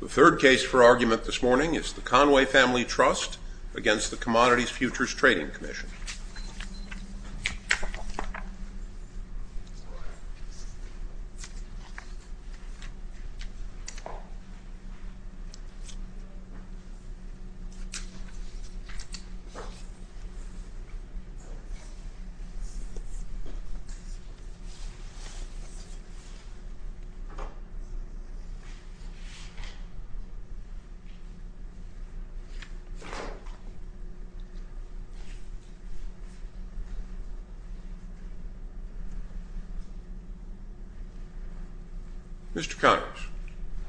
The third case for argument this morning is the Conway Family Trust v. CFTC. Mr. Connors,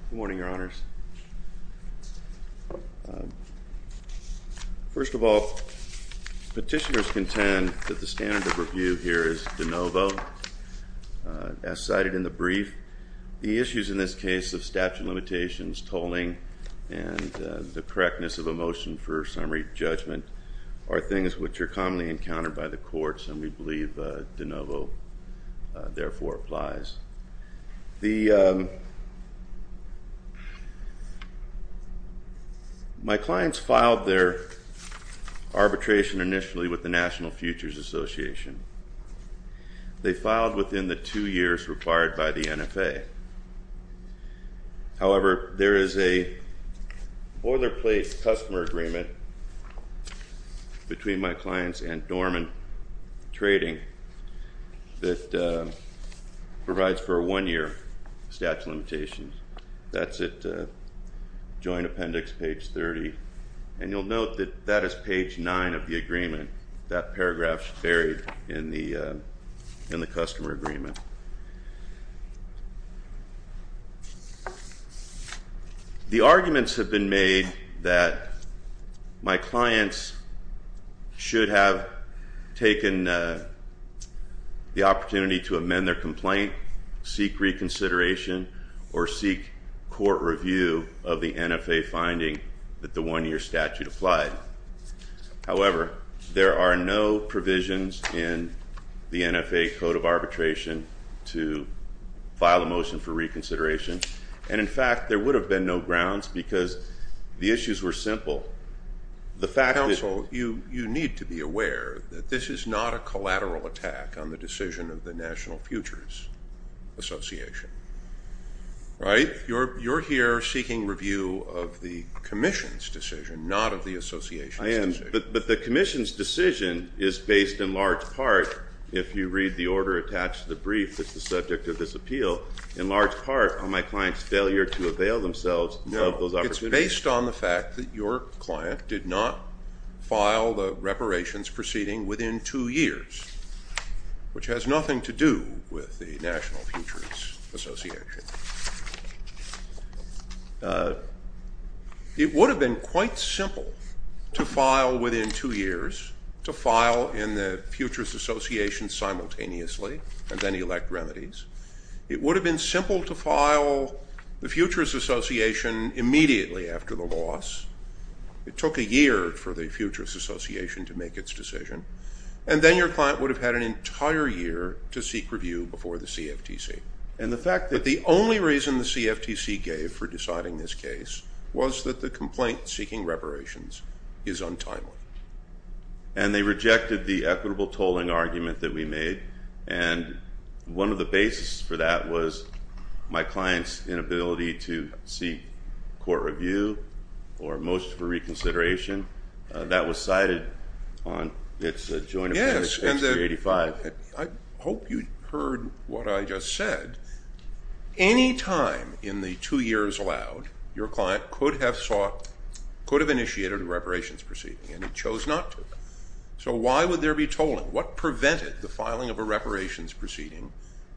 good morning, Your Honors. First of all, petitioners contend that the standard of review here is de novo, as cited in the brief. The issues in this case of statute of limitations, tolling, and the correctness of a motion for summary judgment are things which are commonly encountered by the courts, and we believe de novo therefore applies. My clients filed their arbitration initially with the National Futures Association. They filed within the two years required by the NFA. However, there is a boilerplate customer agreement between my clients and Dorman Trading that provides for a one-year statute of limitations. That's at Joint Appendix, page 30, and you'll note that that is page 9 of the agreement. And that paragraph's buried in the customer agreement. The arguments have been made that my clients should have taken the opportunity to amend their complaint, seek reconsideration, or seek court review of the NFA finding that the one-year statute applied. However, there are no provisions in the NFA Code of Arbitration to file a motion for reconsideration. And in fact, there would have been no grounds because the issues were simple. The fact that- Counsel, you need to be aware that this is not a collateral attack on the decision of the National Futures Association, right? You're here seeking review of the Commission's decision, not of the Association's decision. I am. But the Commission's decision is based in large part, if you read the order attached to the brief that's the subject of this appeal, in large part on my client's failure to avail themselves of those opportunities. No. It's based on the fact that your client did not file the reparations proceeding within two years, which has nothing to do with the National Futures Association. It would have been quite simple to file within two years, to file in the Futures Association simultaneously and then elect remedies. It would have been simple to file the Futures Association immediately after the loss. It took a year for the Futures Association to make its decision. And then your client would have had an entire year to seek review before the CFTC. And the fact that- But the only reason the CFTC gave for deciding this case was that the complaint seeking reparations is untimely. And they rejected the equitable tolling argument that we made. And one of the basis for that was my client's inability to seek court review or motion for reconsideration. That was cited on its joint- Yes. And the- I hope you heard what I just said. Any time in the two years allowed, your client could have sought, could have initiated a reparations proceeding. And he chose not to. So why would there be tolling? What prevented the filing of a reparations proceeding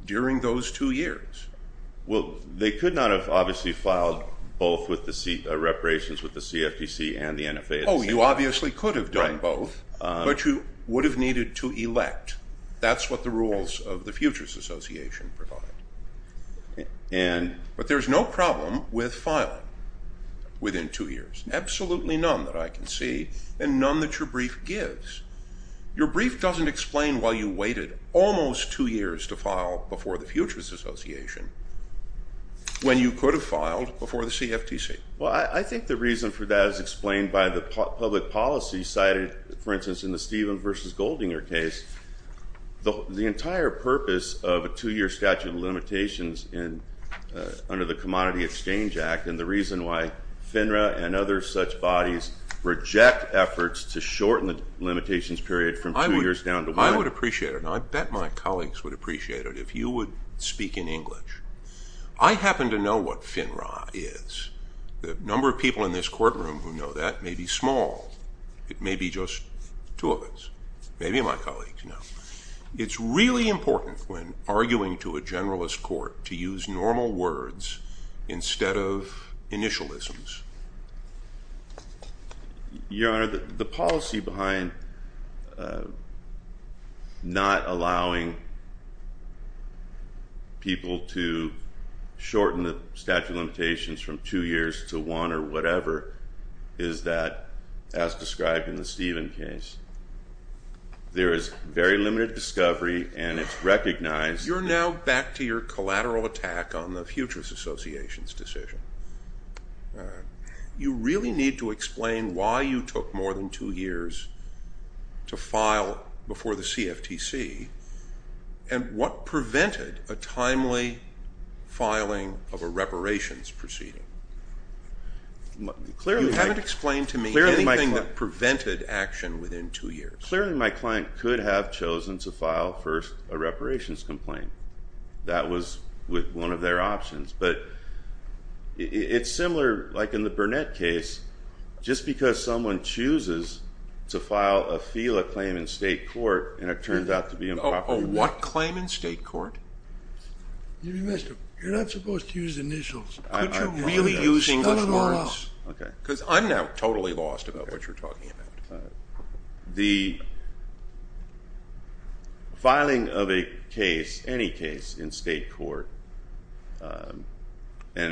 during those two years? Well, they could not have obviously filed both with the C- reparations with the CFTC and the NFA. Oh, you obviously could have done both. But you would have needed to elect. That's what the rules of the Futures Association provide. And- But there's no problem with filing within two years. Absolutely none that I can see and none that your brief gives. Your brief doesn't explain why you waited almost two years to file before the Futures Association when you could have filed before the CFTC. Well, I think the reason for that is explained by the public policy cited, for instance, in the Stephen versus Goldinger case. The entire purpose of a two-year statute of limitations under the Commodity Exchange Act and the reason why FINRA and other such bodies reject efforts to shorten the limitations period from two years down to one- I would appreciate it. And I bet my colleagues would appreciate it if you would speak in English. I happen to know what FINRA is. The number of people in this courtroom who know that may be small. It may be just two of us, maybe my colleagues know. It's really important when arguing to a generalist court to use normal words instead of initialisms. Your Honor, the policy behind not allowing people to shorten the statute of limitations from two years to one or whatever is that, as described in the Stephen case, there is very limited discovery and it's recognized- You're now back to your collateral attack on the Futures Association's decision. You really need to explain why you took more than two years to file before the CFTC and what prevented a timely filing of a reparations proceeding. You haven't explained to me anything that prevented action within two years. Clearly, my client could have chosen to file first a reparations complaint. That was one of their options, but it's similar like in the Burnett case. Just because someone chooses to file a FELA claim in state court and it turns out to be improper- A what claim in state court? You missed it. You're not supposed to use initials. Could you really use English words? I'm still in law. Okay. Because I'm now totally lost about what you're talking about. The filing of a case, any case in state court, and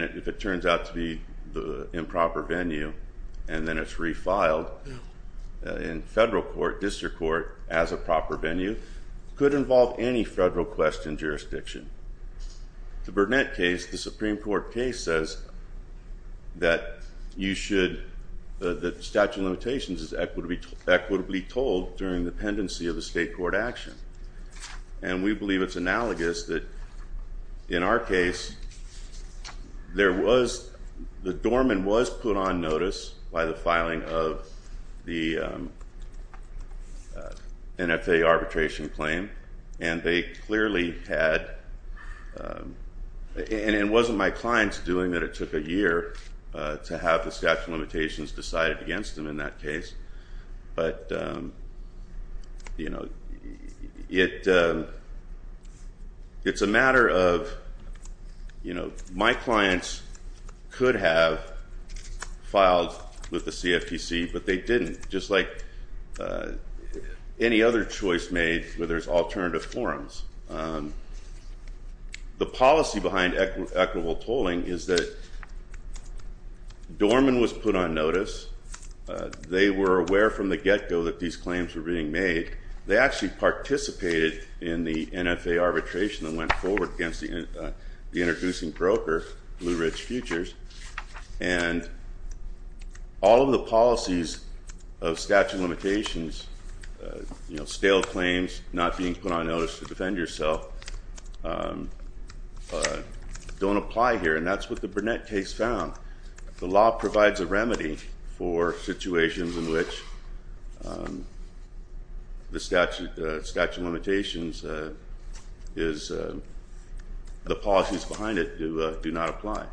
if it turns out to be the improper venue and then it's refiled in federal court, district court as a proper venue, could involve any federal question jurisdiction. The Burnett case, the Supreme Court case says that you should, the statute of limitations is equitably told during the pendency of the state court action. And we believe it's analogous that in our case, there was, the doorman was put on notice by the filing of the NFA arbitration claim and they clearly had, and it wasn't my client's doing that it took a year to have the statute of limitations decided against him in that case, but it's a matter of, my clients could have filed with the CFTC, but they didn't, just like any other choice made where there's alternative forms. The policy behind equitable tolling is that doorman was put on notice. They were aware from the get-go that these claims were being made. They actually participated in the NFA arbitration that went forward against the introducing broker, Blue Ridge Futures. And all of the policies of statute of limitations, you know, stale claims, not being put on notice to defend yourself, don't apply here. And that's what the Burnett case found. The law provides a remedy for situations in which the statute of limitations is, the policies behind it do not apply.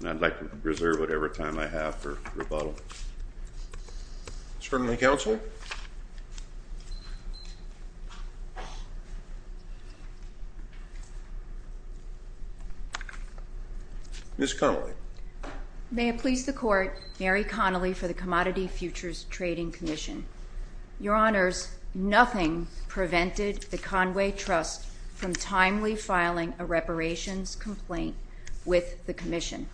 And I'd like to reserve whatever time I have for rebuttal. Certainly, counsel. Ms. Connelly. May it please the court, Mary Connelly for the Commodity Futures Trading Commission. Your honors, nothing prevented the Conway Trust from timely filing a reparations complaint with the commission.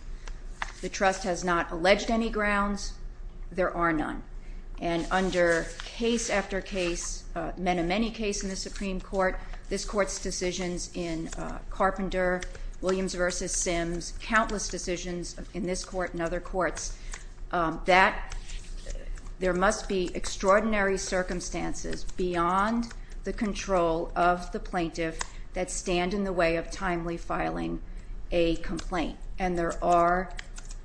The trust has not alleged any grounds. There are none. And under case after case, many, many cases in the Supreme Court, this court's decisions in Carpenter, Williams v. Sims, countless decisions in this court and other courts, there must be extraordinary circumstances beyond the control of the plaintiff that stand in the way of timely filing a complaint. And there are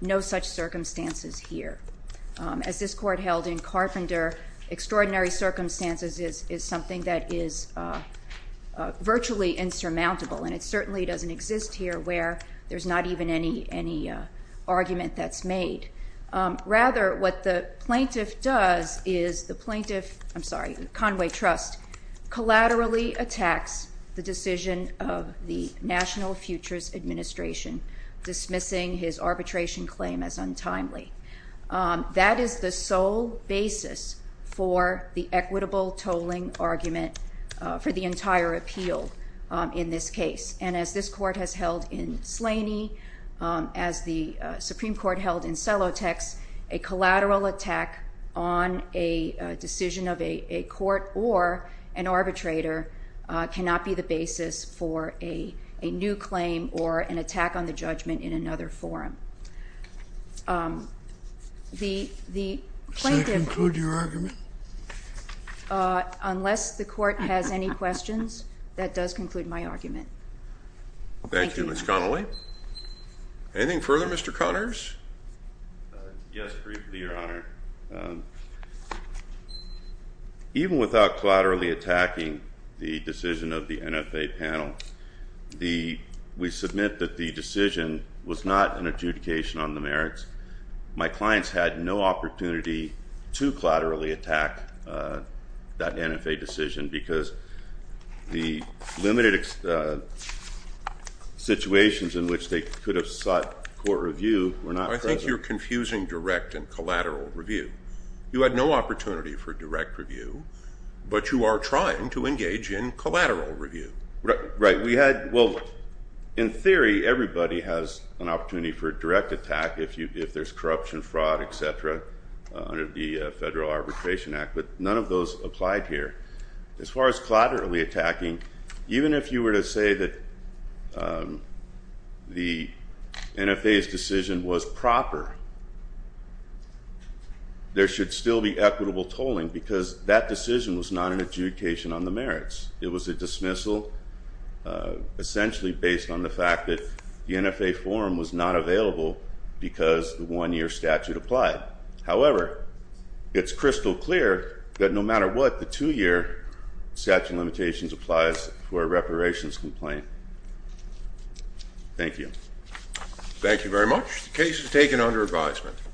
no such circumstances here. As this court held in Carpenter, extraordinary circumstances is something that is virtually insurmountable. And it certainly doesn't exist here where there's not even any argument that's made. Rather, what the plaintiff does is the plaintiff, I'm sorry, Conway Trust, collaterally attacks the decision of the National Futures Administration dismissing his arbitration claim as untimely. That is the sole basis for the equitable tolling argument for the entire appeal in this case. And as this court has held in Slaney, as the Supreme Court held in Celotex, a collateral attack on a decision of a court or an arbitrator cannot be the basis for a new claim or an attack on the judgment in another forum. The plaintiff— Does that conclude your argument? Unless the court has any questions, that does conclude my argument. Thank you. Thank you, Ms. Connelly. Anything further, Mr. Connors? Yes, briefly, Your Honor. Even without collaterally attacking the decision of the NFA panel, we submit that the decision was not an adjudication on the merits. My clients had no opportunity to collaterally attack that NFA decision because the limited situations in which they could have sought court review were not present. I think you're confusing direct and collateral review. You had no opportunity for direct review, but you are trying to engage in collateral review. Right. We had—well, in theory, everybody has an opportunity for a direct attack if there's corruption, fraud, et cetera, under the Federal Arbitration Act, but none of those applied here. As far as collaterally attacking, even if you were to say that the NFA's decision was proper, there should still be equitable tolling because that decision was not an adjudication on the merits. It was a dismissal essentially based on the fact that the NFA form was not available because the one-year statute applied. However, it's crystal clear that no matter what, the two-year statute of limitations applies for a reparations complaint. Thank you. Thank you very much. The case is taken under advisement.